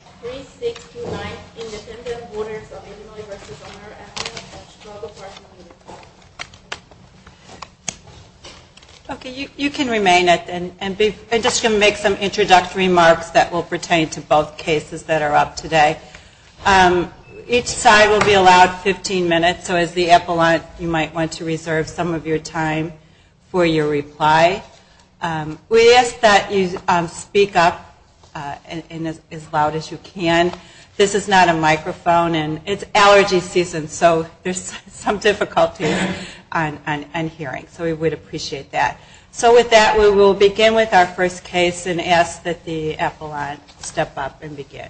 Epilogues and Struggle for Human Rights. Okay, you can remain at the end. I'm just going to make some introductory remarks that will pertain to both cases that are up today. Each side will be allowed 15 minutes, so as the epilogues, you might want to reserve some of your time for your reply. We ask that you speak up as loud as you can. This is not a microphone, and it's allergy season, so there's some difficulties on hearing, so we would appreciate that. So with that, we will begin with our first case and ask that the epilogues step up and begin.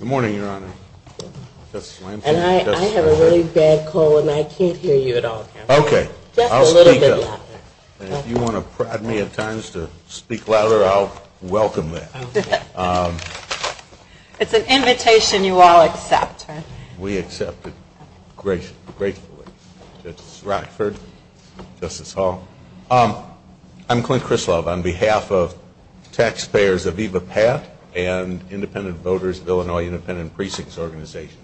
Good morning, Your Honor. And I have a really bad cold, and I can't hear you at all, Counselor. Okay, I'll speak up. And if you want to prod me at times to speak louder, I'll welcome that. It's an invitation you all accept, right? We accept it gratefully. Justice Rockford. Justice Hall. I'm Clint Krislov on behalf of taxpayers of EVAPAT and Independent Voters of Illinois Independent Precincts Organization.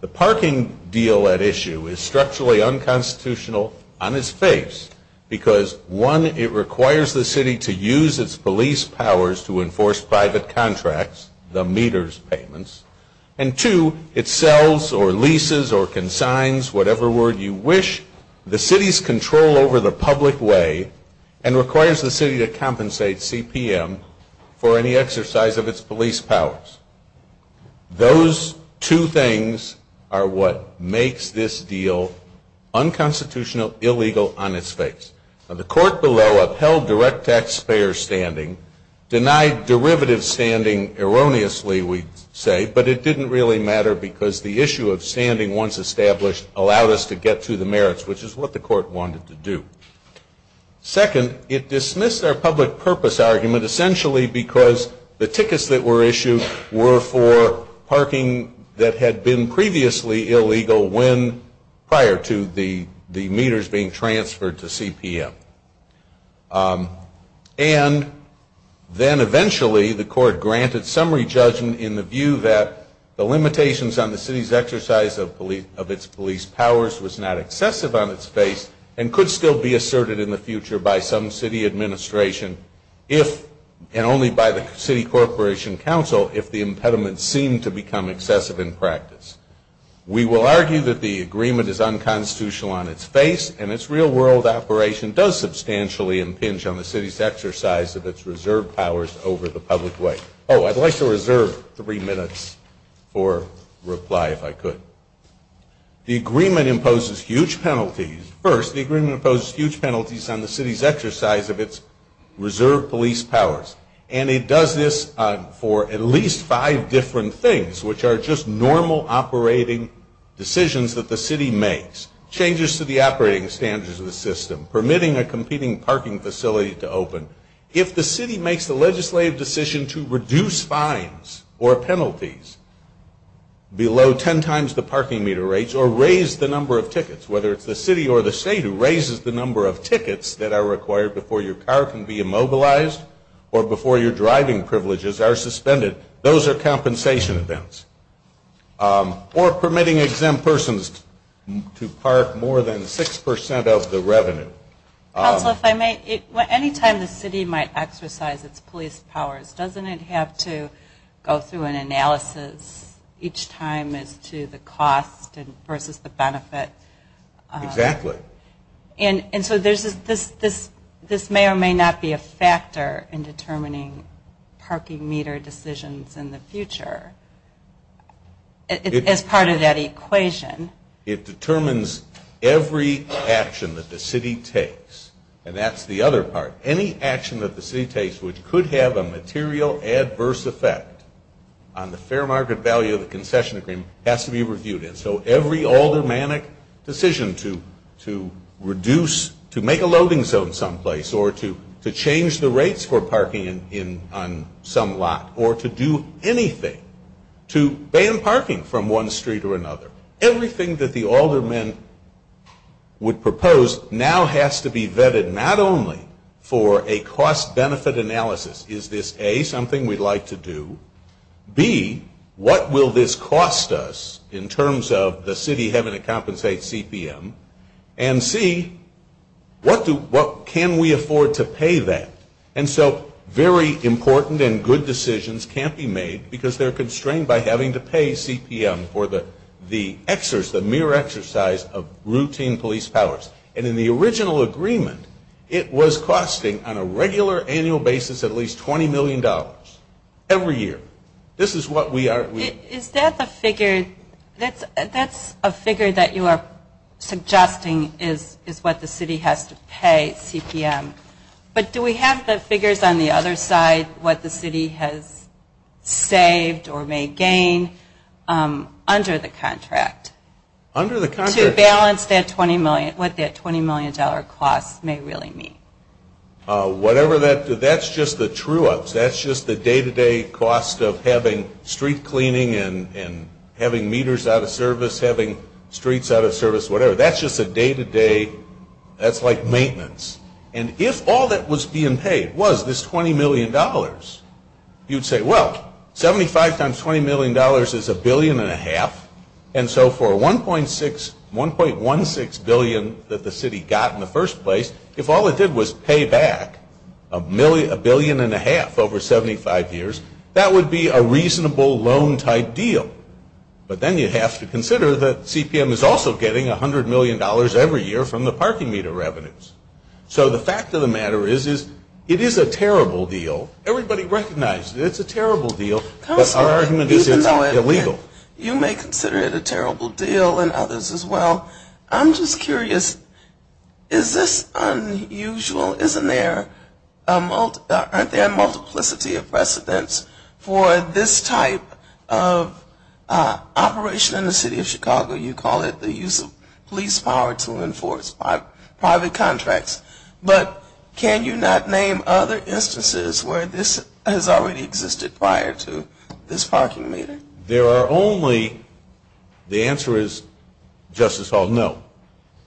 The parking deal at issue is structurally unconstitutional on its face, because one, it requires the city to use its police powers to enforce private contracts, the meters payments, and two, it sells or leases or consigns, whatever word you wish, the city's control over the public way and requires the city to compensate CPM for any exercise of its police powers. Those two things are what makes this deal unconstitutional, illegal on its face. The court below upheld direct taxpayer standing, denied derivative standing erroneously, we say, but it didn't really matter because the issue of standing once established allowed us to get to the merits, which is what the court wanted to do. Second, it dismissed our public purpose argument essentially because the tickets that were being transferred to CPM. And then eventually the court granted summary judgment in the view that the limitations on the city's exercise of its police powers was not excessive on its face and could still be asserted in the future by some city administration if, and only by the city corporation council, if the impediment seemed to become excessive in practice. We will argue that the agreement is unconstitutional on its face and its real world operation does substantially impinge on the city's exercise of its reserve powers over the public way. Oh, I'd like to reserve three minutes for reply if I could. The agreement imposes huge penalties. First, the agreement imposes huge penalties on the city's exercise of its reserve police powers. And it does this for at least five different things, which are just normal operating decisions that the city makes, changes to the operating standards of the system, permitting a competing parking facility to open. If the city makes the legislative decision to reduce fines or penalties below ten times the parking meter rates or raise the number of tickets, whether it's the city or the state who raises the number of tickets that are required before your car can be immobilized or before your driving privileges are suspended, those are compensation events. Or permitting exempt persons to park more than six percent of the revenue. Council, if I may, any time the city might exercise its police powers, doesn't it have to go through an analysis each time as to the cost versus the benefit? Exactly. And so this may or may not be a factor in determining parking meter decisions in the future. As part of that equation. It determines every action that the city takes. And that's the other part. Any action that the city takes which could have a material adverse effect on the fair market value of the concession agreement has to be reviewed. And so every aldermanic decision to reduce, to make a loading zone someplace or to change the rates for parking on some lot or to do anything, to ban parking from one street or another, everything that the aldermen would propose now has to be vetted not only for a cost-benefit analysis. Is this A, something we'd like to do? B, what will this cost us in terms of the city having to compensate CPM? And C, what can we afford to pay that? And so very important and good decisions can't be made because they're constrained by having to pay CPM for the mere exercise of routine police powers. And in the original agreement, it was costing on a regular annual basis at least $20 million every year. This is what we are. Is that the figure? That's a figure that you are suggesting is what the city has to pay CPM. But do we have the figures on the other side, what the city has saved or may gain under the contract? To balance what that $20 million cost may really mean. Whatever that, that's just the true-ups. That's just the day-to-day cost of having street cleaning and having meters out of service, having streets out of service, whatever. That's just a day-to-day, that's like maintenance. And if all that was being paid was this $20 million, you'd say, well, 75 times $20 million is $1.5 billion. And so for $1.16 billion that the city got in the first place, if all it did was pay back $1.5 billion over 75 years, that would be a reasonable loan-type deal. But then you have to consider that CPM is also getting $100 million every year from the parking meter revenues. So the fact of the matter is it is a terrible deal. Everybody recognizes it's a terrible deal, but our argument is it's illegal. You may consider it a terrible deal and others as well. I'm just curious, is this unusual? Isn't there a multiplicity of precedents for this type of operation in the city of Chicago? You call it the use of police power to enforce private contracts. But can you not name other instances where this has already existed prior to this parking meter? There are only, the answer is, Justice Hall, no.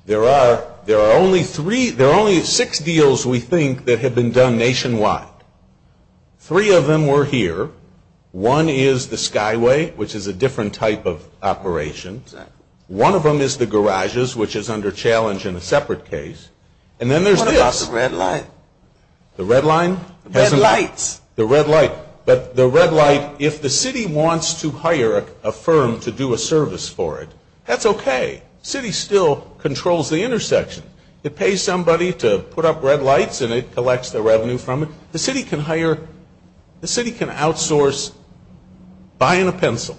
There are only three, there are only six deals, we think, that have been done nationwide. Three of them were here. One is the Skyway, which is a different type of operation. One of them is the garages, which is under challenge in a separate case. And then there's this. What about the red light? The red line? The red lights. The red light. But the red light, if the city wants to hire a firm to do a service for it, that's okay. The city still controls the intersection. It pays somebody to put up red lights and it collects the revenue from it. The city can hire, the city can outsource buying a pencil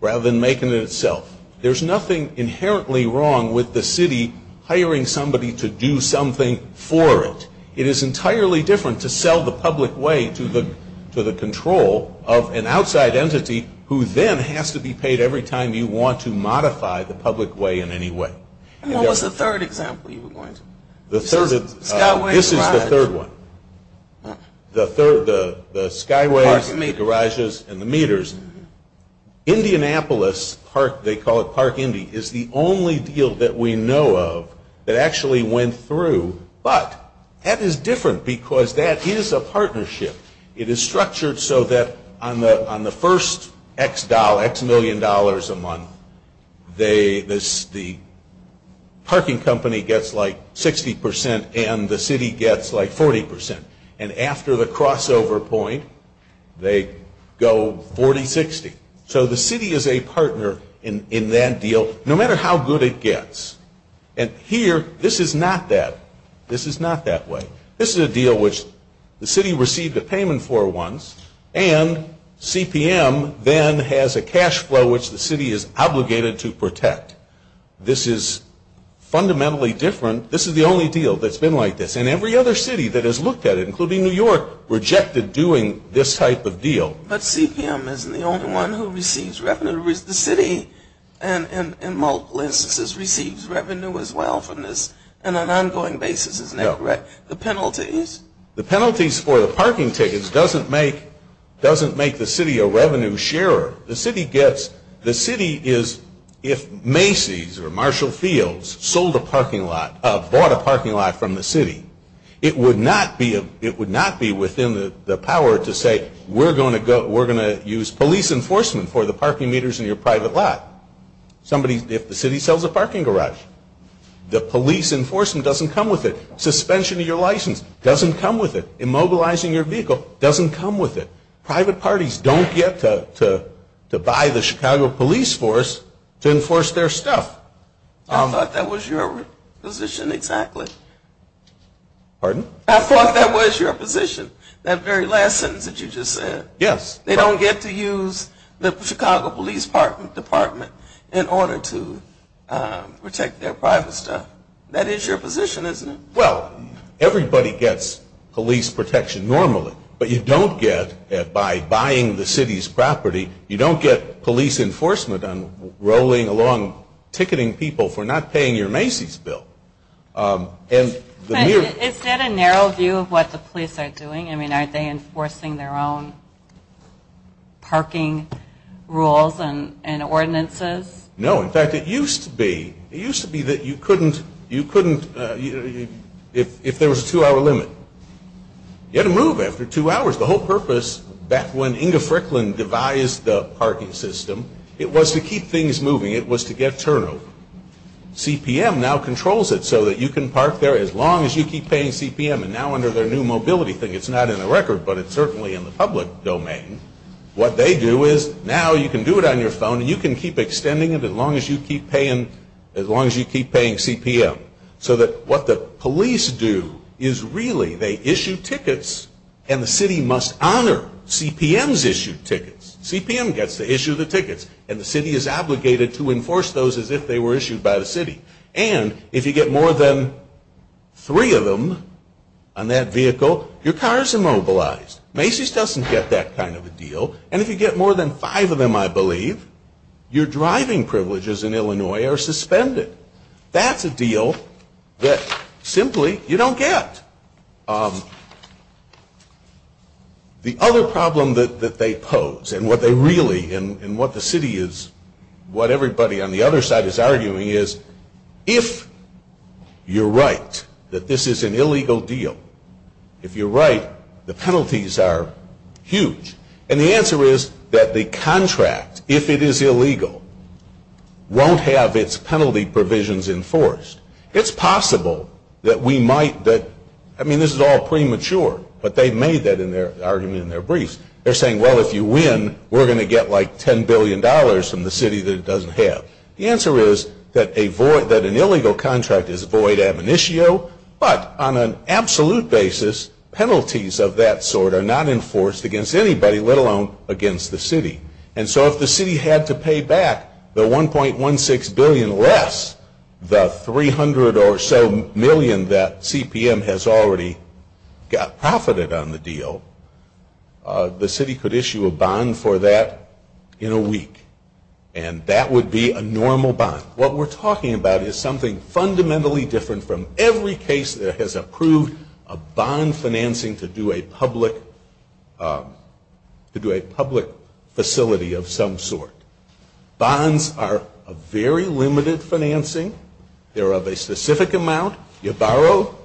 rather than making it itself. There's nothing inherently wrong with the city hiring somebody to do something for it. It is entirely different to sell the public way to the control of an outside entity who then has to be paid every time you want to modify the public way in any way. And what was the third example you were going to? This is the third one. The Skyway, the garages, and the meters. Indianapolis Park, they call it Park Indy, is the only deal that we know of that actually went through. But that is different because that is a partnership. It is structured so that on the first X million dollars a month, the parking company gets like 60% and the city gets like 40%. And after the crossover point, they go 40-60. So the city is a partner in that deal no matter how good it gets. And here, this is not that. This is not that way. This is a deal which the city received a payment for once, and CPM then has a cash flow which the city is obligated to protect. This is fundamentally different. This is the only deal that's been like this. And every other city that has looked at it, including New York, rejected doing this type of deal. But CPM isn't the only one who receives revenue. The city, in multiple instances, receives revenue as well from this on an ongoing basis. No. The penalties? The penalties for the parking tickets doesn't make the city a revenue sharer. The city gets, the city is, if Macy's or Marshall Fields sold a parking lot, bought a parking lot from the city, it would not be within the power to say, we're going to use police enforcement for the parking meters in your private lot. Somebody, if the city sells a parking garage. The police enforcement doesn't come with it. Suspension of your license doesn't come with it. Immobilizing your vehicle doesn't come with it. Private parties don't get to buy the Chicago police force to enforce their stuff. I thought that was your position exactly. Pardon? I thought that was your position, that very last sentence that you just said. Yes. They don't get to use the Chicago Police Department in order to protect their private stuff. That is your position, isn't it? Well, everybody gets police protection normally, but you don't get it by buying the city's property. You don't get police enforcement on rolling along ticketing people for not paying your Macy's bill. Is that a narrow view of what the police are doing? I mean, aren't they enforcing their own parking rules and ordinances? No. In fact, it used to be. It used to be that you couldn't, if there was a two-hour limit, get a move after two hours. The whole purpose back when Inga Fricklin devised the parking system, it was to keep things moving. It was to get turnover. CPM now controls it so that you can park there as long as you keep paying CPM. And now under their new mobility thing, it's not in the record, but it's certainly in the public domain, what they do is now you can do it on your phone and you can keep extending it as long as you keep paying CPM. So that what the police do is really they issue tickets and the city must honor CPM's issued tickets. CPM gets to issue the tickets and the city is obligated to enforce those as if they were issued by the city. And if you get more than three of them on that vehicle, your car is immobilized. Macy's doesn't get that kind of a deal. And if you get more than five of them, I believe, your driving privileges in Illinois are suspended. That's a deal that simply you don't get. The other problem that they pose and what they really and what the city is, what everybody on the other side is arguing is if you're right that this is an illegal deal, if you're right, the penalties are huge. And the answer is that the contract, if it is illegal, won't have its penalty provisions enforced. It's possible that we might, I mean, this is all premature, but they've made that argument in their briefs. They're saying, well, if you win, we're going to get like $10 billion from the city that it doesn't have. The answer is that an illegal contract is void ab initio, but on an absolute basis, penalties of that sort are not enforced against anybody, let alone against the city. And so if the city had to pay back the $1.16 billion less, the $300 or so million that CPM has already got profited on the deal, the city could issue a bond for that in a week. And that would be a normal bond. What we're talking about is something fundamentally different from every case that has approved a bond financing to do a public facility of some sort. Bonds are a very limited financing. They're of a specific amount. You borrow,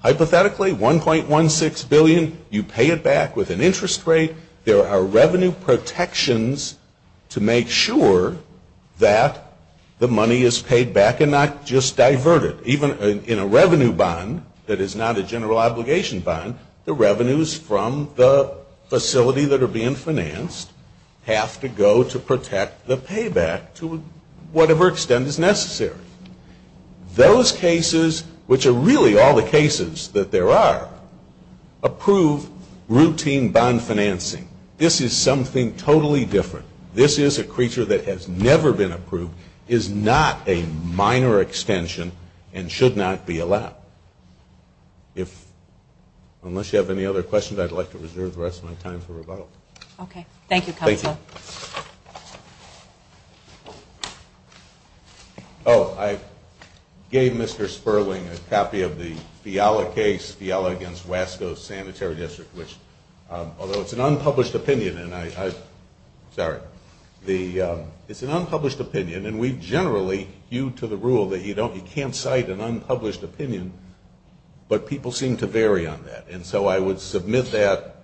hypothetically, $1.16 billion. You pay it back with an interest rate. There are revenue protections to make sure that the money is paid back and not just diverted. Even in a revenue bond that is not a general obligation bond, the revenues from the facility that are being financed have to go to protect the payback to whatever extent is necessary. Those cases, which are really all the cases that there are, approve routine bond financing. This is something totally different. This is a creature that has never been approved, is not a minor extension, and should not be allowed. Unless you have any other questions, I'd like to reserve the rest of my time for rebuttal. Okay. Thank you, Counsel. Thank you. Oh, I gave Mr. Sperling a copy of the Fiala case, Fiala against Wasco Sanitary District, although it's an unpublished opinion, and we generally hew to the rule that you can't cite an unpublished opinion, but people seem to vary on that. And so I would submit that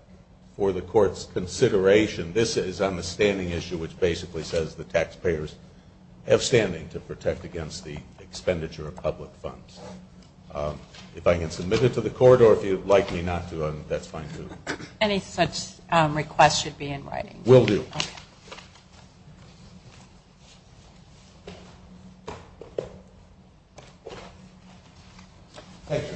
for the Court's consideration. This is on the standing issue, which basically says the taxpayers have standing to protect against the expenditure of public funds. If I can submit it to the Court, or if you'd like me not to, that's fine too. Any such request should be in writing. Will do. Okay. Thank you.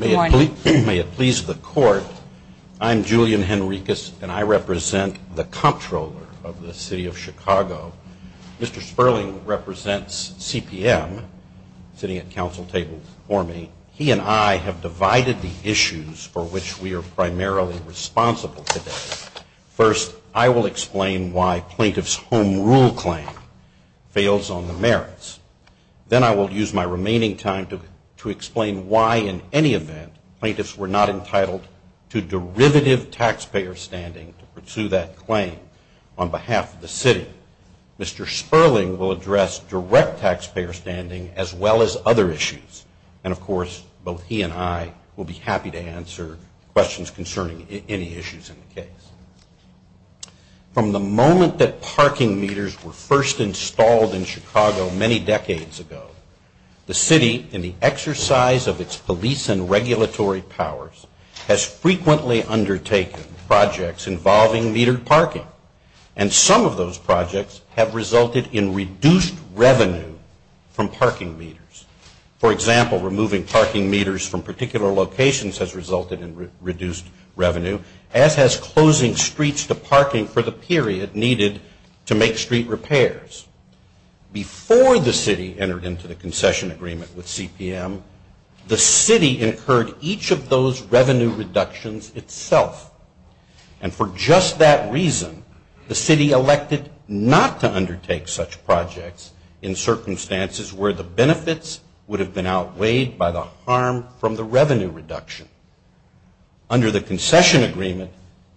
Good morning. May it please the Court, I'm Julian Henricus, and I represent the comptroller of the City of Chicago. Mr. Sperling represents CPM, sitting at counsel tables for me. He and I have divided the issues for which we are primarily responsible today. First, I will explain why plaintiff's home rule claim fails on the merits. Then I will use my remaining time to explain why, in any event, plaintiffs were not entitled to derivative taxpayer standing to pursue that claim on behalf of the city. Mr. Sperling will address direct taxpayer standing as well as other issues. And, of course, both he and I will be happy to answer questions concerning any issues in the case. From the moment that parking meters were first installed in Chicago many decades ago, the city, in the exercise of its police and regulatory powers, has frequently undertaken projects involving metered parking. And some of those projects have resulted in reduced revenue from parking meters. For example, removing parking meters from particular locations has resulted in reduced revenue, as has closing streets to parking for the period needed to make street repairs. Before the city entered into the concession agreement with CPM, the city incurred each of those revenue reductions itself. And for just that reason, the city elected not to undertake such projects in circumstances where the benefits would have been outweighed by the harm from the revenue reduction. Under the concession agreement,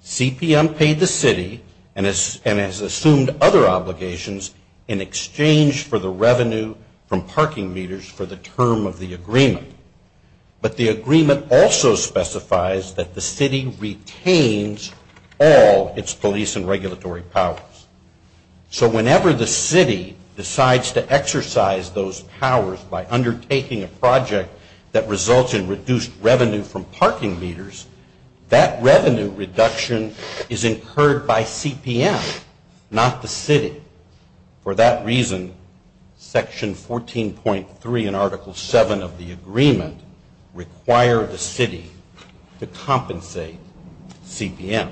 CPM paid the city and has assumed other obligations in exchange for the revenue from parking meters for the term of the agreement. But the agreement also specifies that the city retains all its police and regulatory powers. So whenever the city decides to exercise those powers by undertaking a project that results in reduced revenue from parking meters, that revenue reduction is incurred by CPM, not the city. For that reason, Section 14.3 and Article 7 of the agreement require the city to compensate CPM.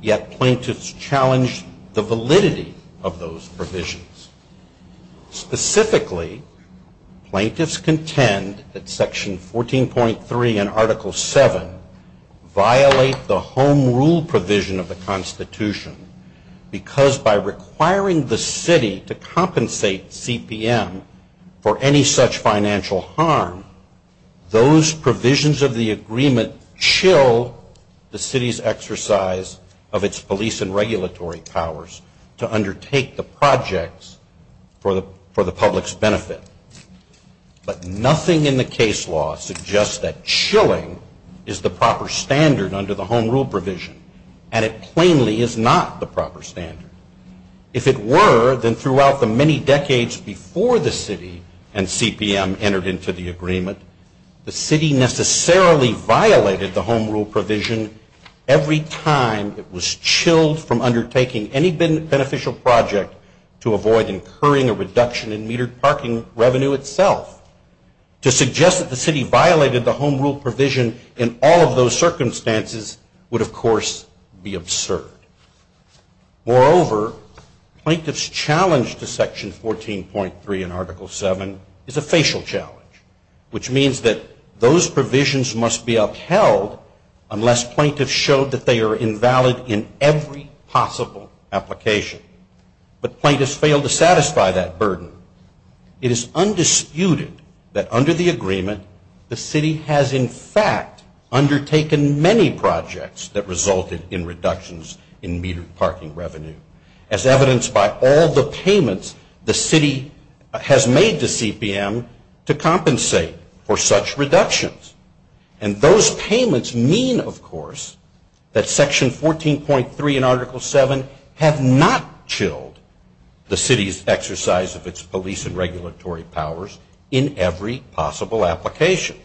Yet plaintiffs challenge the validity of those provisions. Specifically, plaintiffs contend that Section 14.3 and Article 7 violate the home rule provision of the Constitution because by requiring the city to compensate CPM for any such financial harm, those provisions of the agreement chill the city's exercise of its police and regulatory powers to undertake the projects for the public's benefit. But nothing in the case law suggests that chilling is the proper standard under the home rule provision, and it plainly is not the proper standard. If it were, then throughout the many decades before the city and CPM entered into the agreement, the city necessarily violated the home rule provision every time it was chilled from undertaking any beneficial project to avoid incurring a reduction in metered parking revenue itself. To suggest that the city violated the home rule provision in all of those circumstances would, of course, be absurd. Moreover, plaintiffs' challenge to Section 14.3 and Article 7 is a facial challenge, which means that those provisions must be upheld unless plaintiffs show that they are invalid in every possible application. But plaintiffs fail to satisfy that burden. It is undisputed that under the agreement the city has, in fact, undertaken many projects that resulted in reductions in metered parking revenue, as evidenced by all the payments the city has made to CPM to compensate for such reductions. And those payments mean, of course, that Section 14.3 and Article 7 have not chilled the city's exercise of its police and regulatory powers in every possible application.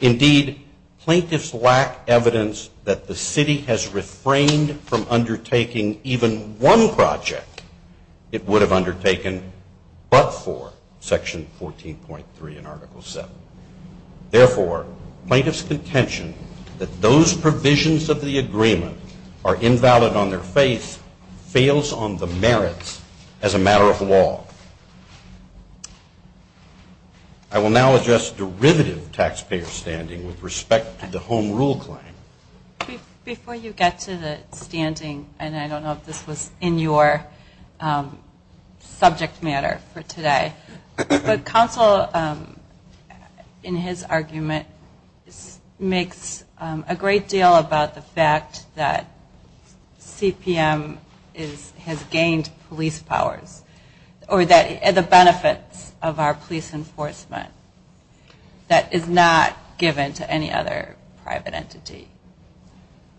Indeed, plaintiffs lack evidence that the city has refrained from undertaking even one project it would have undertaken but for Section 14.3 and Article 7. Therefore, plaintiffs' contention that those provisions of the agreement are invalid on their face fails on the merits as a matter of law. I will now address derivative taxpayer standing with respect to the home rule claim. Before you get to the standing, and I don't know if this was in your subject matter for today, but counsel, in his argument, makes a great deal about the fact that CPM has gained police powers or the benefits of our police enforcement that is not given to any other private entity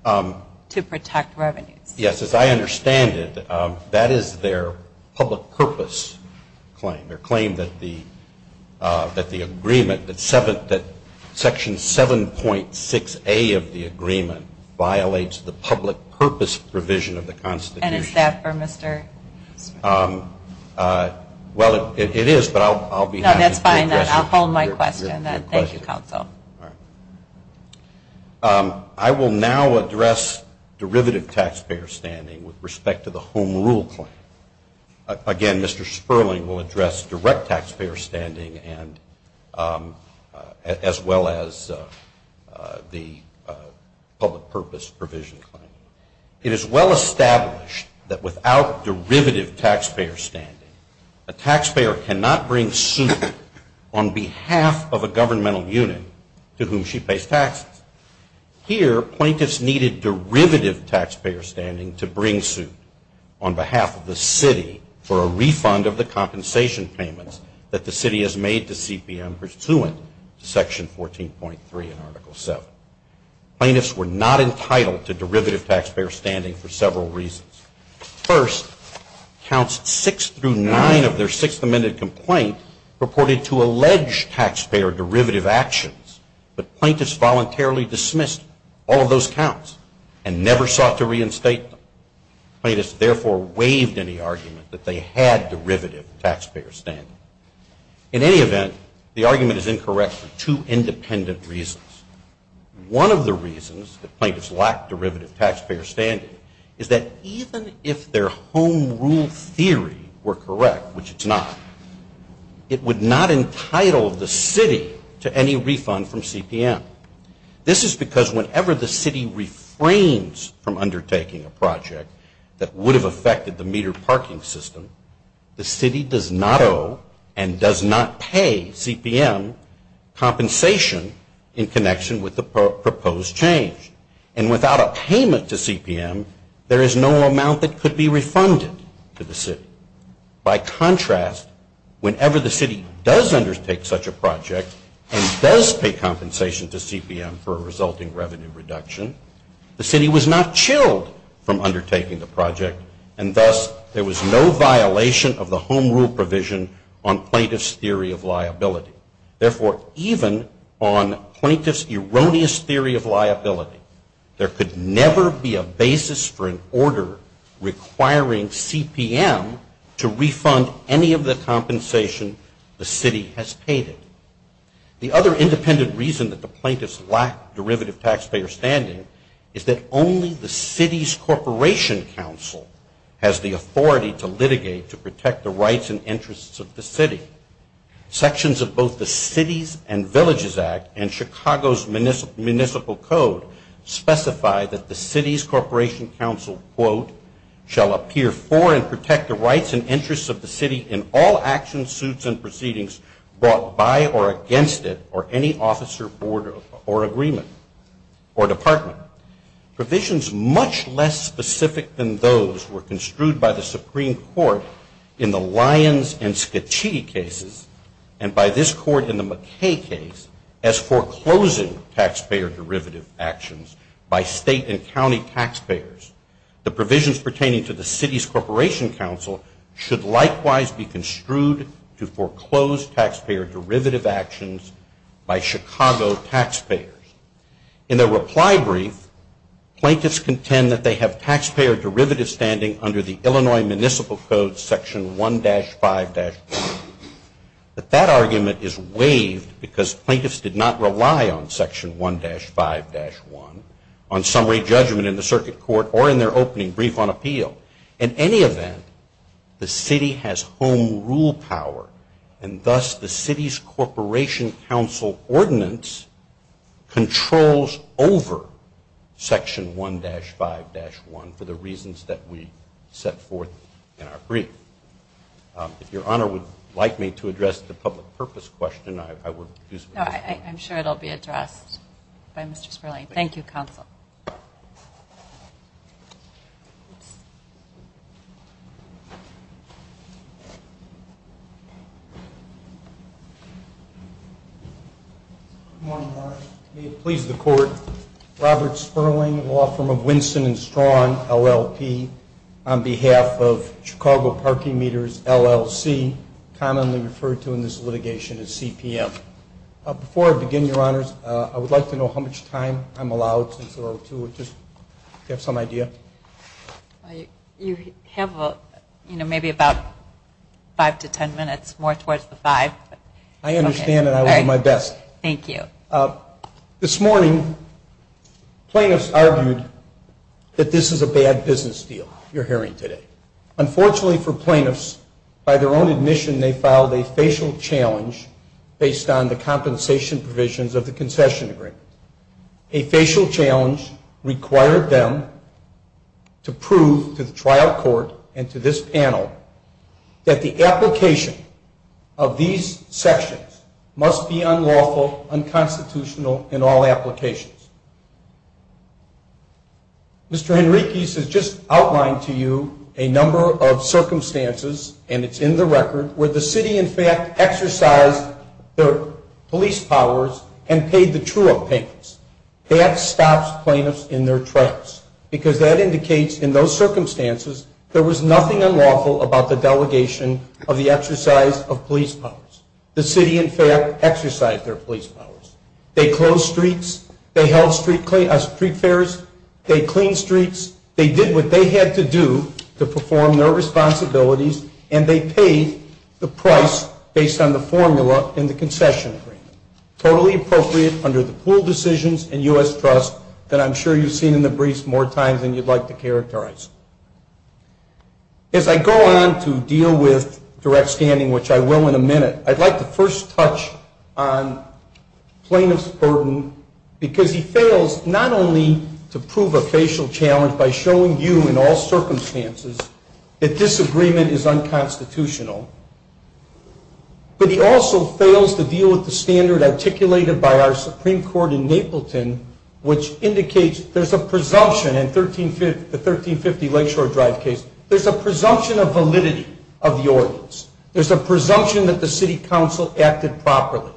to protect revenues. Yes, as I understand it, that is their public purpose claim, their claim that the agreement, that Section 7.6A of the agreement violates the public purpose provision of the Constitution. And is that for Mr. Sperling? Well, it is, but I'll be happy to address it. No, that's fine. I'll hold my question. Thank you, counsel. I will now address derivative taxpayer standing with respect to the home rule claim. Again, Mr. Sperling will address direct taxpayer standing as well as the public purpose provision claim. It is well established that without derivative taxpayer standing, a taxpayer cannot bring suit on behalf of a governmental unit to whom she pays taxes. Here, plaintiffs needed derivative taxpayer standing to bring suit on behalf of the city for a refund of the compensation payments that the city has made to CPM pursuant to Section 14.3 in Article 7. Plaintiffs were not entitled to derivative taxpayer standing for several reasons. First, Counts 6 through 9 of their Sixth Amendment complaint reported to allege taxpayer derivative actions, but plaintiffs voluntarily dismissed all of those counts and never sought to reinstate them. Plaintiffs therefore waived any argument that they had derivative taxpayer standing. In any event, the argument is incorrect for two independent reasons. One of the reasons that plaintiffs lacked derivative taxpayer standing is that even if their home rule theory were correct, which it's not, it would not entitle the city to any refund from CPM. This is because whenever the city refrains from undertaking a project that would have affected the meter parking system, the city does not owe and does not pay CPM compensation in connection with the proposed change. And without a payment to CPM, there is no amount that could be refunded to the city. By contrast, whenever the city does undertake such a project and does pay compensation to CPM for a resulting revenue reduction, the city was not chilled from undertaking the project and thus there was no violation of the home rule provision on plaintiffs' theory of liability. Therefore, even on plaintiffs' erroneous theory of liability, there could never be a basis for an order requiring CPM to refund any of the compensation the city has paid it. The other independent reason that the plaintiffs lack derivative taxpayer standing is that only the city's corporation council has the authority to litigate to protect the rights and interests of the city. Sections of both the Cities and Villages Act and Chicago's municipal code specify that the city's corporation council, quote, shall appear for and protect the rights and interests of the city in all actions, suits and proceedings brought by or against it or any officer, board or agreement or department. Provisions much less specific than those were construed by the Supreme Court in the Lyons and Scaccitti cases and by this court in the McKay case as foreclosing taxpayer derivative actions by state and county taxpayers. The provisions pertaining to the city's corporation council should likewise be construed to foreclose taxpayer derivative actions by Chicago taxpayers. In their reply brief, plaintiffs contend that they have taxpayer derivative standing under the Illinois Municipal Code, Section 1-5-1. But that argument is waived because plaintiffs did not rely on Section 1-5-1. On summary judgment in the circuit court or in their opening brief on appeal. In any event, the city has home rule power and thus the city's corporation council ordinance controls over Section 1-5-1 for the reasons that we set forth in our brief. If Your Honor would like me to address the public purpose question, I would. I'm sure it will be addressed by Mr. Sperling. Thank you, Counsel. Good morning, Your Honor. May it please the Court. Robert Sperling, law firm of Winston and Strawn, LLP, on behalf of Chicago Parking Meters, LLC, commonly referred to in this litigation as CPM. Before I begin, Your Honors, I would like to know how much time I'm allowed, since we're over two. Do you have some idea? You have maybe about five to ten minutes, more towards the five. I understand and I will do my best. Thank you. This morning, plaintiffs argued that this is a bad business deal you're hearing today. Unfortunately for plaintiffs, by their own admission, they filed a facial challenge based on the compensation provisions of the concession agreement. A facial challenge required them to prove to the trial court and to this panel that the application of these sections must be unlawful, unconstitutional in all applications. Mr. Henriques has just outlined to you a number of circumstances, and it's in the record, where the city in fact exercised their police powers and paid the true-up payments. That stops plaintiffs in their trails, because that indicates in those circumstances there was nothing unlawful about the delegation of the exercise of police powers. The city, in fact, exercised their police powers. They closed streets. They held street fairs. They cleaned streets. They did what they had to do to perform their responsibilities, and they paid the price based on the formula in the concession agreement. Totally appropriate under the pool decisions and U.S. trust that I'm sure you've seen in the briefs more times than you'd like to characterize. As I go on to deal with direct standing, which I will in a minute, I'd like to first touch on plaintiff's burden, because he fails not only to prove a facial challenge by showing you in all circumstances that disagreement is unconstitutional, but he also fails to deal with the standard articulated by our Supreme Court in Napleton, which indicates there's a presumption in the 1350 Lakeshore Drive case. There's a presumption of validity of the ordinance. There's a presumption that the city council acted properly.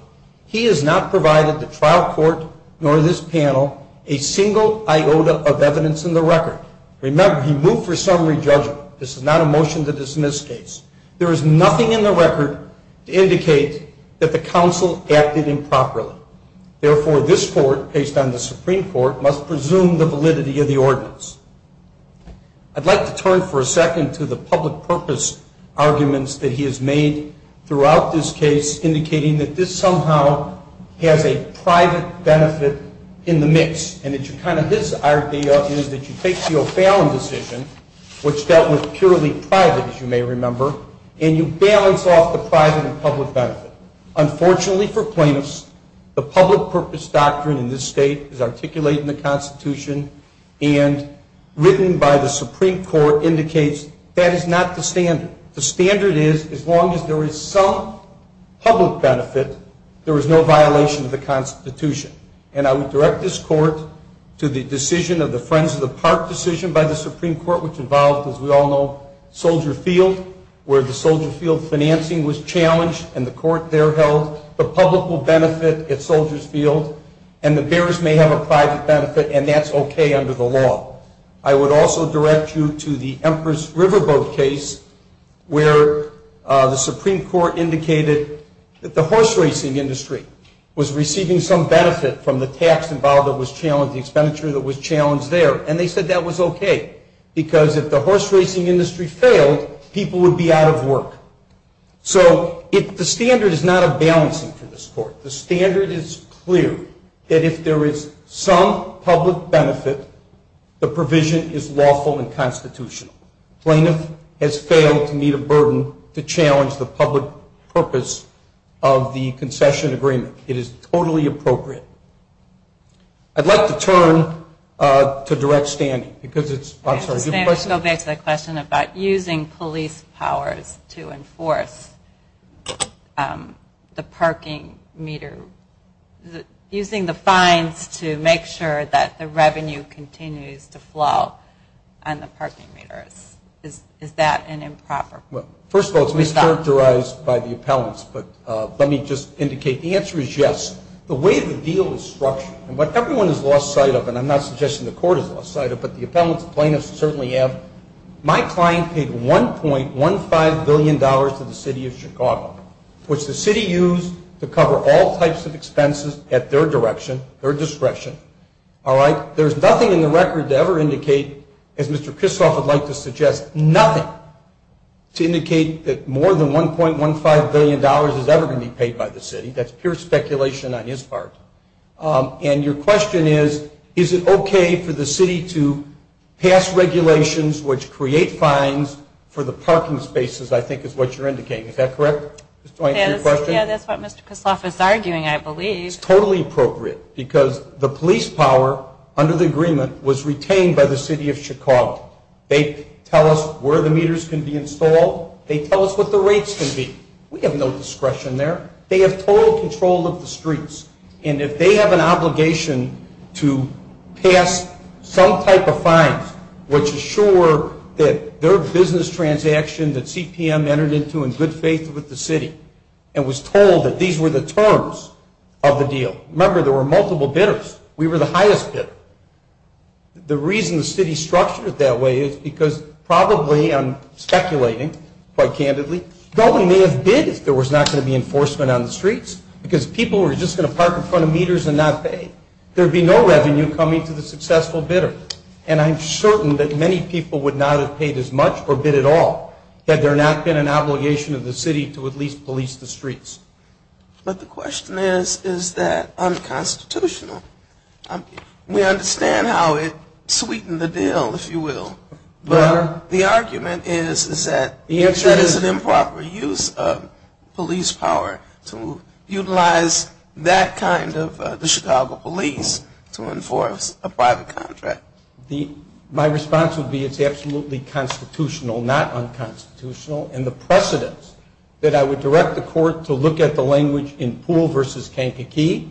He has not provided the trial court nor this panel a single iota of evidence in the record. Remember, he moved for summary judgment. This is not a motion to dismiss case. There is nothing in the record to indicate that the council acted improperly. Therefore, this court, based on the Supreme Court, must presume the validity of the ordinance. I'd like to turn for a second to the public purpose arguments that he has made throughout this case, indicating that this somehow has a private benefit in the mix. And it's kind of his idea is that you take the O'Fallon decision, which dealt with purely private, as you may remember, and you balance off the private and public benefit. Unfortunately for plaintiffs, the public purpose doctrine in this state is articulated in the Constitution and written by the Supreme Court indicates that is not the standard. The standard is as long as there is some public benefit, there is no violation of the Constitution. And I would direct this court to the decision of the Friends of the Park decision by the Supreme Court, which involved, as we all know, Soldier Field, where the Soldier Field financing was challenged and the court there held the public will benefit at Soldier Field and the bearers may have a private benefit and that's okay under the law. I would also direct you to the Empress Riverboat case where the Supreme Court indicated that the horse racing industry was receiving some benefit from the tax involved that was challenged, the expenditure that was challenged there. And they said that was okay because if the horse racing industry failed, people would be out of work. So the standard is not a balancing for this court. The standard is clear that if there is some public benefit, the provision is lawful and constitutional. Plaintiff has failed to meet a burden to challenge the public purpose of the concession agreement. It is totally appropriate. I'd like to turn to direct standing because it's, I'm sorry. I'll go back to the question about using police powers to enforce the parking meter, using the fines to make sure that the revenue continues to flow on the parking meters. Is that an improper? Well, first of all, it's mischaracterized by the appellants, but let me just indicate the answer is yes. The way the deal is structured and what everyone has lost sight of, and I'm not suggesting the court has lost sight of it, but the appellants and plaintiffs certainly have. My client paid $1.15 billion to the city of Chicago, which the city used to cover all types of expenses at their direction, their discretion. There's nothing in the record to ever indicate, as Mr. Kristof would like to suggest, nothing to indicate that more than $1.15 billion is ever going to be paid by the city. That's pure speculation on his part. And your question is, is it okay for the city to pass regulations which create fines for the parking spaces, I think is what you're indicating. Is that correct? Yeah, that's what Mr. Kristof is arguing, I believe. It's totally appropriate because the police power under the agreement was retained by the city of Chicago. They tell us where the meters can be installed. They tell us what the rates can be. We have no discretion there. They have total control of the streets, and if they have an obligation to pass some type of fine, which is sure that their business transaction that CPM entered into in good faith with the city and was told that these were the terms of the deal. Remember, there were multiple bidders. We were the highest bidder. The reason the city structured it that way is because probably, I'm speculating quite candidly, nobody may have bid if there was not going to be enforcement on the streets because people were just going to park in front of meters and not pay. There would be no revenue coming to the successful bidder, and I'm certain that many people would not have paid as much or bid at all had there not been an obligation of the city to at least police the streets. But the question is, is that unconstitutional? We understand how it sweetened the deal, if you will, but the argument is that it is an improper use of police power to utilize that kind of the Chicago police to enforce a private contract. My response would be it's absolutely constitutional, not unconstitutional, and the precedence that I would direct the court to look at the language in Poole v. Kankakee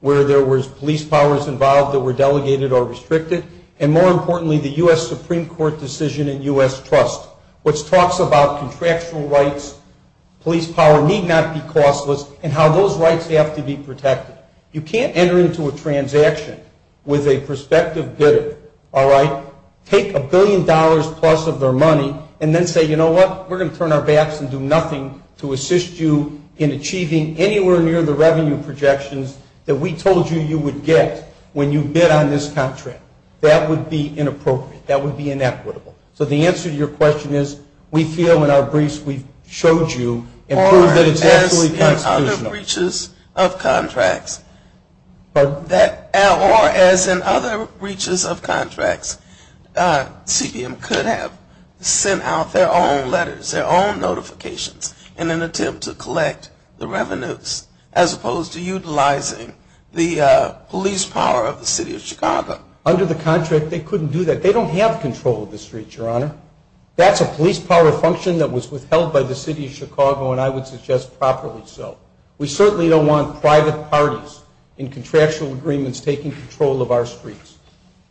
where there was police powers involved that were delegated or restricted, and more importantly, the U.S. Supreme Court decision in U.S. Trust, which talks about contractual rights, police power need not be costless, and how those rights have to be protected. You can't enter into a transaction with a prospective bidder, all right, take a billion dollars plus of their money, and then say, you know what, we're going to turn our backs and do nothing to assist you in achieving anywhere near the revenue projections that we told you you would get when you bid on this contract. That would be inappropriate. That would be inequitable. So the answer to your question is we feel in our briefs we've showed you and proved that it's absolutely constitutional. Or as in other breaches of contracts, CBM could have sent out their own letters, their own notifications in an attempt to collect the revenues, as opposed to utilizing the police power of the city of Chicago. Under the contract, they couldn't do that. They don't have control of the streets, Your Honor. That's a police power function that was withheld by the city of Chicago, and I would suggest properly so. We certainly don't want private parties in contractual agreements taking control of our streets.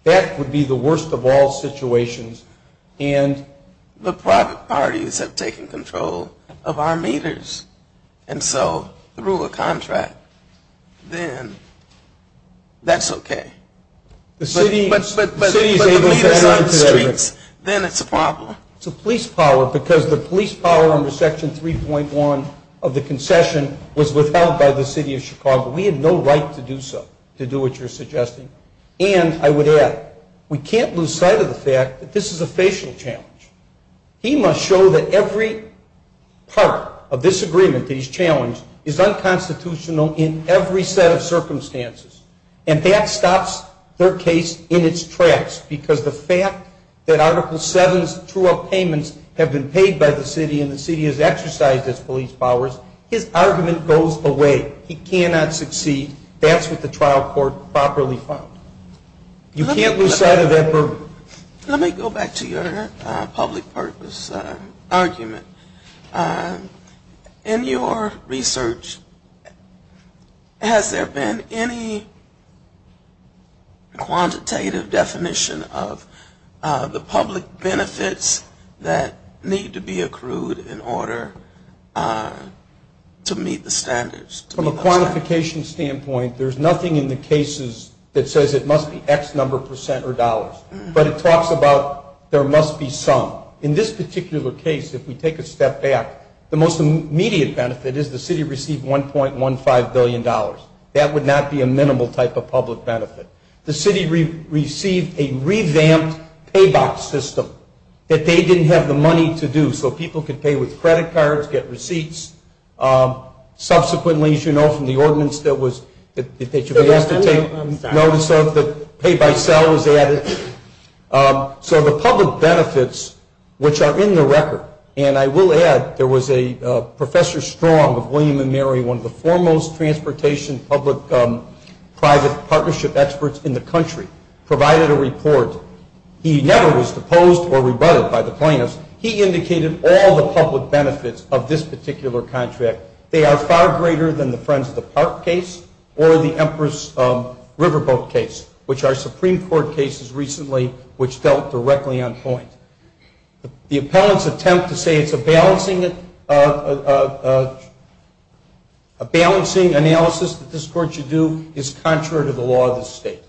That would be the worst of all situations. And the private parties have taken control of our meters. And so through a contract, then that's okay. But the meters on the streets, then it's a problem. It's a police power because the police power under Section 3.1 of the concession was withheld by the city of Chicago. We had no right to do so, to do what you're suggesting. And I would add, we can't lose sight of the fact that this is a facial challenge. He must show that every part of this agreement that he's challenged is unconstitutional in every set of circumstances. And that stops their case in its tracks because the fact that Article 7's true up payments have been paid by the city and the city has exercised its police powers, his argument goes away. He cannot succeed. That's what the trial court properly found. You can't lose sight of that. Let me go back to your public purpose argument. In your research, has there been any quantitative definition of the public benefits that need to be accrued in order to meet the standards? From a quantification standpoint, there's nothing in the cases that says it must be X number of percent or dollars. But it talks about there must be some. In this particular case, if we take a step back, the most immediate benefit is the city received $1.15 billion. That would not be a minimal type of public benefit. The city received a revamped pay box system that they didn't have the money to do so people could pay with credit cards, get receipts. Subsequently, as you know from the ordinance that was that they should be asked to take notice of that pay by cell was added. So the public benefits, which are in the record, and I will add there was a Professor Strong of William and Mary, one of the foremost transportation public-private partnership experts in the country, provided a report. He never was deposed or rebutted by the plaintiffs. He indicated all the public benefits of this particular contract. They are far greater than the Friends of the Park case or the Empress Riverboat case, which are Supreme Court cases recently which dealt directly on point. The appellant's attempt to say it's a balancing analysis that this court should do is contrary to the law of the state.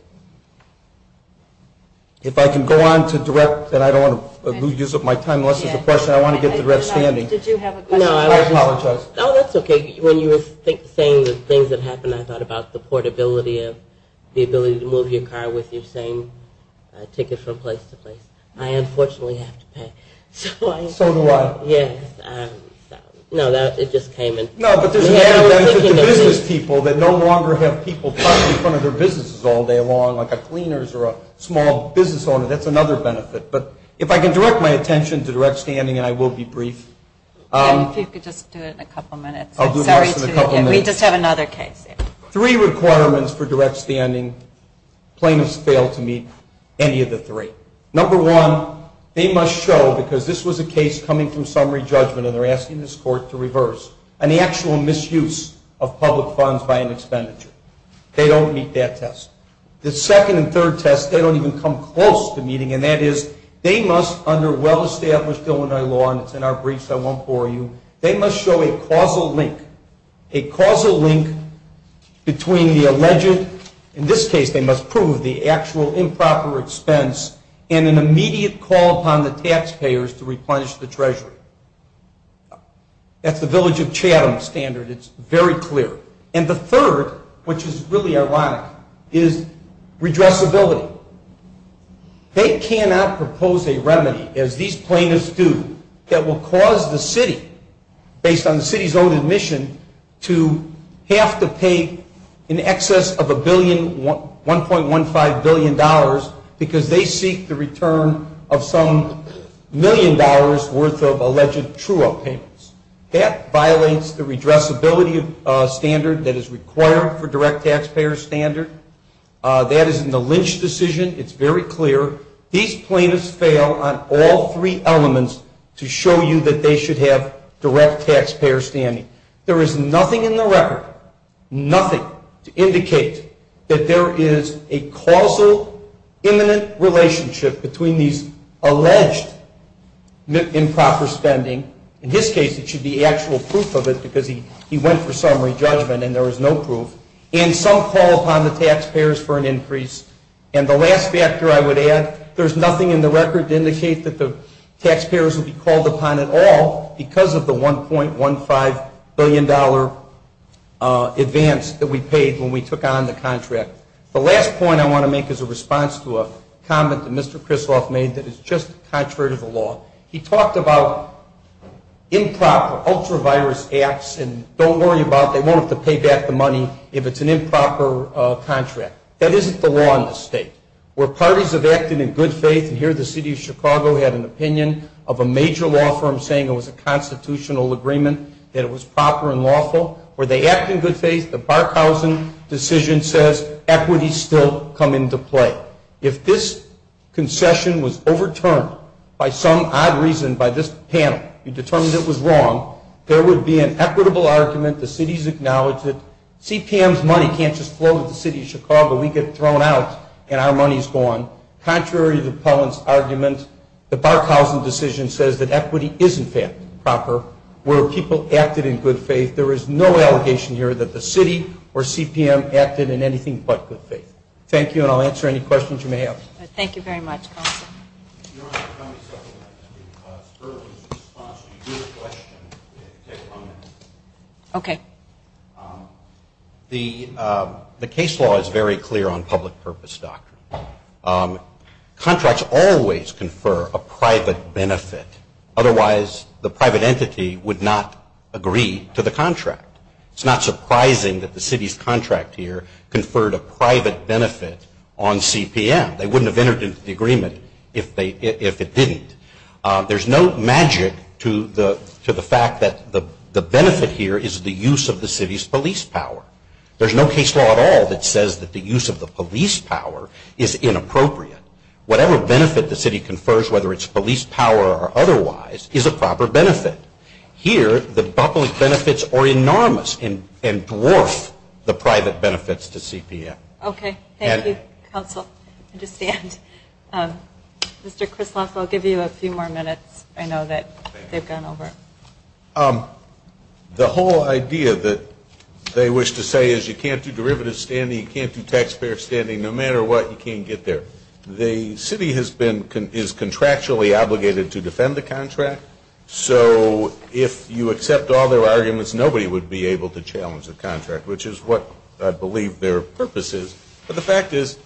If I can go on to direct, then I don't want to use up my time unless there's a question. I want to get the direct standing. Did you have a question? I apologize. No, that's okay. When you were saying the things that happened, I thought about the portability of the ability to move your car with your same ticket from place to place. I unfortunately have to pay. So do I. Yes. No, it just came in. No, but there's an added benefit to business people that no longer have people talking in front of their businesses all day long, like a cleaner or a small business owner. That's another benefit. But if I can direct my attention to direct standing, and I will be brief. If you could just do it in a couple minutes. I'll do this in a couple minutes. We just have another case. Three requirements for direct standing. Plaintiffs fail to meet any of the three. Number one, they must show, because this was a case coming from summary judgment, and they're asking this court to reverse, an actual misuse of public funds by an expenditure. They don't meet that test. The second and third test, they don't even come close to meeting, and that is they must, under well-established Illinois law, and it's in our briefs, I won't bore you, they must show a causal link, a causal link between the alleged, in this case, they must prove, the actual improper expense and an immediate call upon the taxpayers to replenish the treasury. That's the Village of Chatham standard. It's very clear. And the third, which is really ironic, is redressability. They cannot propose a remedy, as these plaintiffs do, that will cause the city, $1.15 billion because they seek the return of some million dollars worth of alleged true-up payments. That violates the redressability standard that is required for direct taxpayer standard. That is in the Lynch decision. It's very clear. These plaintiffs fail on all three elements to show you that they should have direct taxpayer standing. There is nothing in the record, nothing, to indicate that there is a causal, imminent relationship between these alleged improper spending, in this case, it should be actual proof of it because he went for summary judgment and there was no proof, and some call upon the taxpayers for an increase. And the last factor I would add, there's nothing in the record to indicate that the taxpayers would be called upon at all because of the $1.15 billion advance that we paid when we took on the contract. The last point I want to make is a response to a comment that Mr. Krisloff made that is just contrary to the law. He talked about improper, ultra-virus acts and don't worry about it, they won't have to pay back the money if it's an improper contract. That isn't the law in this state. Where parties have acted in good faith, and here the city of Chicago had an opinion of a major law firm saying it was a constitutional agreement, that it was proper and lawful, where they act in good faith, the Barkhausen decision says equity still come into play. If this concession was overturned by some odd reason by this panel, you determined it was wrong, there would be an equitable argument, the cities acknowledge it, CPM's money can't just flow to the city of Chicago. We get thrown out and our money is gone. Contrary to Pellin's argument, the Barkhausen decision says that equity is in fact proper, where people acted in good faith. There is no allegation here that the city or CPM acted in anything but good faith. Thank you and I'll answer any questions you may have. Thank you very much. The case law is very clear on public purpose, Doctor. Contracts always confer a private benefit, otherwise the private entity would not agree to the contract. It's not surprising that the city's contract here conferred a private benefit on CPM. They wouldn't have entered into the agreement if it didn't. There's no magic to the fact that the benefit here is the use of the city's police power. There's no case law at all that says that the use of the police power is inappropriate. Whatever benefit the city confers, whether it's police power or otherwise, is a proper benefit. Here, the public benefits are enormous and dwarf the private benefits to CPM. Okay, thank you, counsel. I understand. Mr. Krisloff, I'll give you a few more minutes. I know that they've gone over. The whole idea that they wish to say is you can't do derivative standing, you can't do taxpayer standing, no matter what, you can't get there. The city is contractually obligated to defend the contract, so if you accept all their arguments, nobody would be able to challenge the contract, which is what I believe their purpose is. But the fact is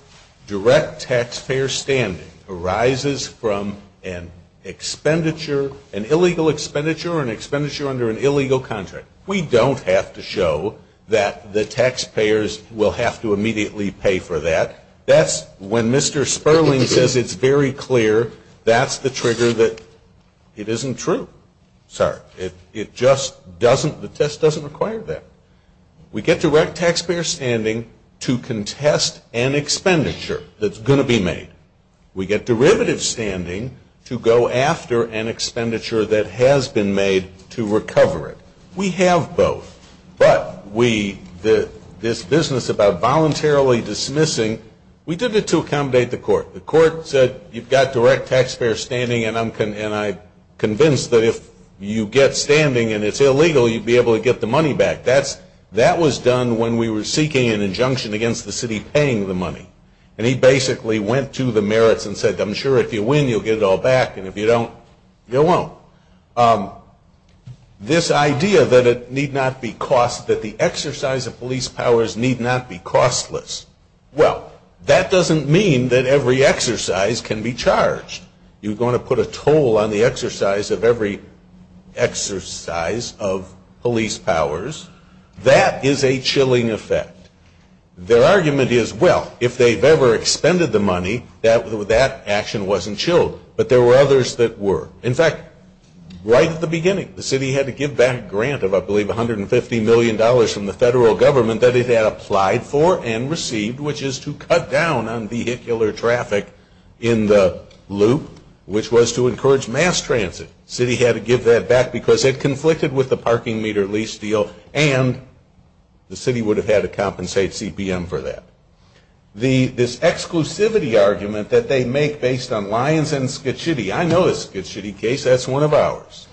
direct taxpayer standing arises from an expenditure, an illegal expenditure or an expenditure under an illegal contract. We don't have to show that the taxpayers will have to immediately pay for that. That's when Mr. Sperling says it's very clear, that's the trigger that it isn't true. It just doesn't, the test doesn't require that. We get direct taxpayer standing to contest an expenditure that's going to be made. We get derivative standing to go after an expenditure that has been made to recover it. We have both. But we, this business about voluntarily dismissing, we did it to accommodate the court. The court said you've got direct taxpayer standing and I'm convinced that if you get standing and it's illegal, you'd be able to get the money back. That was done when we were seeking an injunction against the city paying the money. And he basically went to the merits and said, I'm sure if you win, you'll get it all back, and if you don't, you won't. This idea that it need not be cost, that the exercise of police powers need not be costless, well, that doesn't mean that every exercise can be charged. You're going to put a toll on the exercise of every exercise of police powers. That is a chilling effect. Their argument is, well, if they've ever expended the money, that action wasn't chilled. But there were others that were. In fact, right at the beginning, the city had to give back a grant of, I believe, $150 million from the federal government that it had applied for and received, which is to cut down on vehicular traffic in the loop, which was to encourage mass transit. The city had to give that back because it conflicted with the parking meter lease deal and the city would have had to compensate CPM for that. This exclusivity argument that they make based on Lyons and Skitchitty, I know the Skitchitty case, that's one of ours,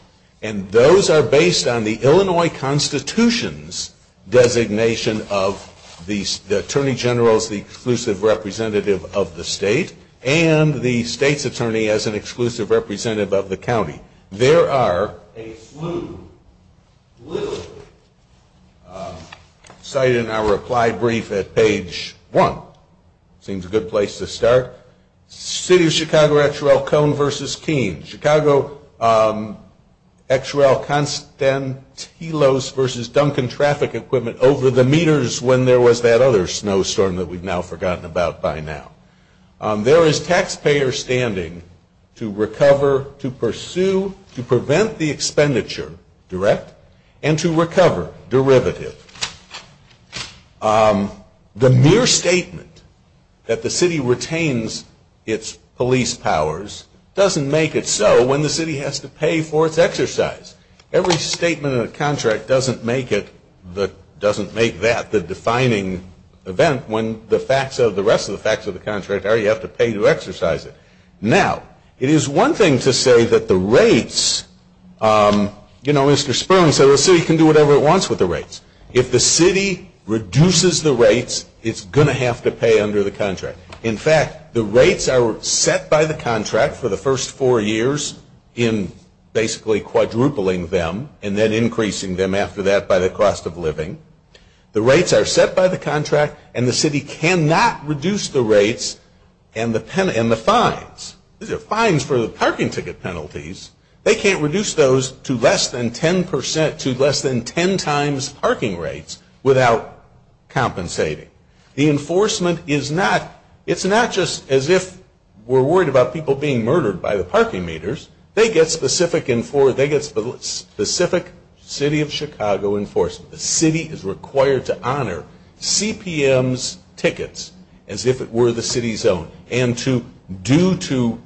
and those are based on the Illinois Constitution's designation of the attorney general as the exclusive representative of the state and the state's attorney as an exclusive representative of the county. There are a slew, literally, cited in our reply brief at page one. Seems a good place to start. City of Chicago Actuarial Cone versus Keene. Chicago Actuarial Constantinos versus Duncan Traffic Equipment over the meters when there was that other snowstorm that we've now forgotten about by now. There is taxpayer standing to recover, to pursue, to prevent the expenditure, direct, and to recover, derivative. The mere statement that the city retains its police powers doesn't make it so when the city has to pay for its exercise. Every statement in a contract doesn't make that the defining event when the rest of the facts of the contract are you have to pay to exercise it. Now, it is one thing to say that the rates, you know, Mr. Sperling said the city can do whatever it wants with the rates. If the city reduces the rates, it's going to have to pay under the contract. In fact, the rates are set by the contract for the first four years in basically quadrupling them and then increasing them after that by the cost of living. The rates are set by the contract, and the city cannot reduce the rates and the fines. These are fines for the parking ticket penalties. They can't reduce those to less than 10 times parking rates without compensating. The enforcement is not, it's not just as if we're worried about people being murdered by the parking meters. They get specific city of Chicago enforcement. The city is required to honor CPM's tickets as if it were the city's own and to due to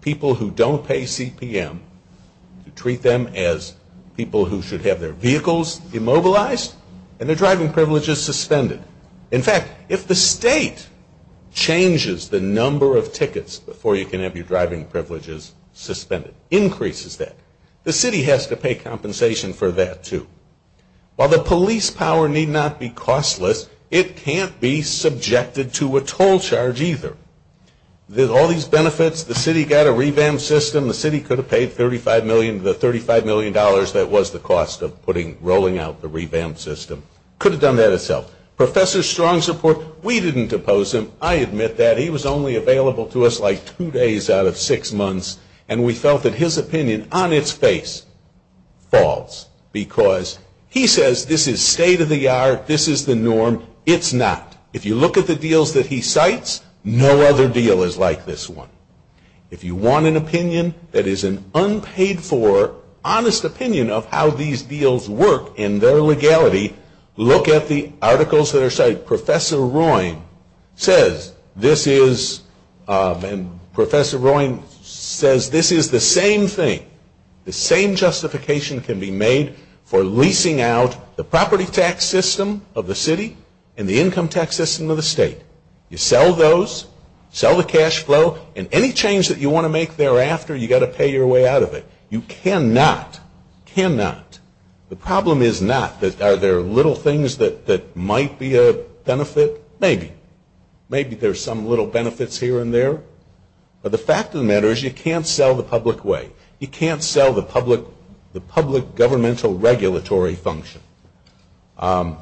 people who don't pay CPM, to treat them as people who should have their vehicles immobilized and their driving privileges suspended. In fact, if the state changes the number of tickets before you can have your driving privileges suspended, increases that, the city has to pay compensation for that too. While the police power need not be costless, it can't be subjected to a toll charge either. There's all these benefits, the city got a revamp system, the city could have paid 35 million to the $35 million that was the cost of putting, rolling out the revamp system. Could have done that itself. Professor Strong's report, we didn't depose him. I admit that. He was only available to us like two days out of six months, and we felt that his opinion on its face falls because he says this is state of the art, this is the norm, it's not. If you look at the deals that he cites, no other deal is like this one. If you want an opinion that is an unpaid for, honest opinion of how these deals work and their legality, look at the articles that are cited. Professor Royne says this is the same thing. The same justification can be made for leasing out the property tax system of the city and the income tax system of the state. You sell those, sell the cash flow, and any change that you want to make thereafter, you've got to pay your way out of it. You cannot, cannot. The problem is not that are there little things that might be a benefit? Maybe. Maybe there's some little benefits here and there. But the fact of the matter is you can't sell the public way. You can't sell the public governmental regulatory function. I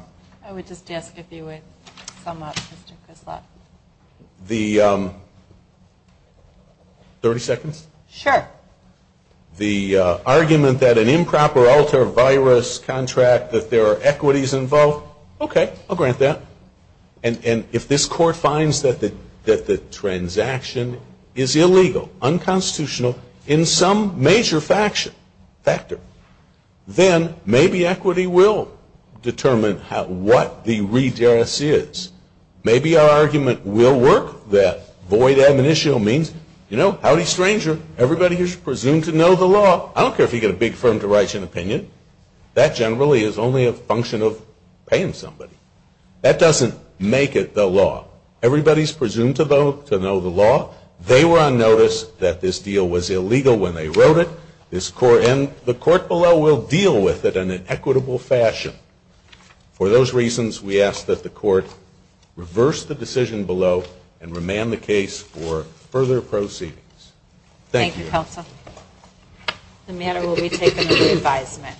would just ask if you would sum up, Mr. Griswold. Thirty seconds? Sure. The argument that an improper alter virus contract, that there are equities involved? Okay, I'll grant that. And if this court finds that the transaction is illegal, unconstitutional, in some major factor, then maybe equity will determine what the redress is. Maybe our argument will work that void admonitio means, you know, howdy stranger, everybody is presumed to know the law. I don't care if you get a big firm to write you an opinion. That generally is only a function of paying somebody. That doesn't make it the law. Everybody is presumed to know the law. They were on notice that this deal was illegal when they wrote it. And the court below will deal with it in an equitable fashion. For those reasons, we ask that the court reverse the decision below and remand the case for further proceedings. Thank you. Thank you, counsel. The matter will be taken to re-advisement.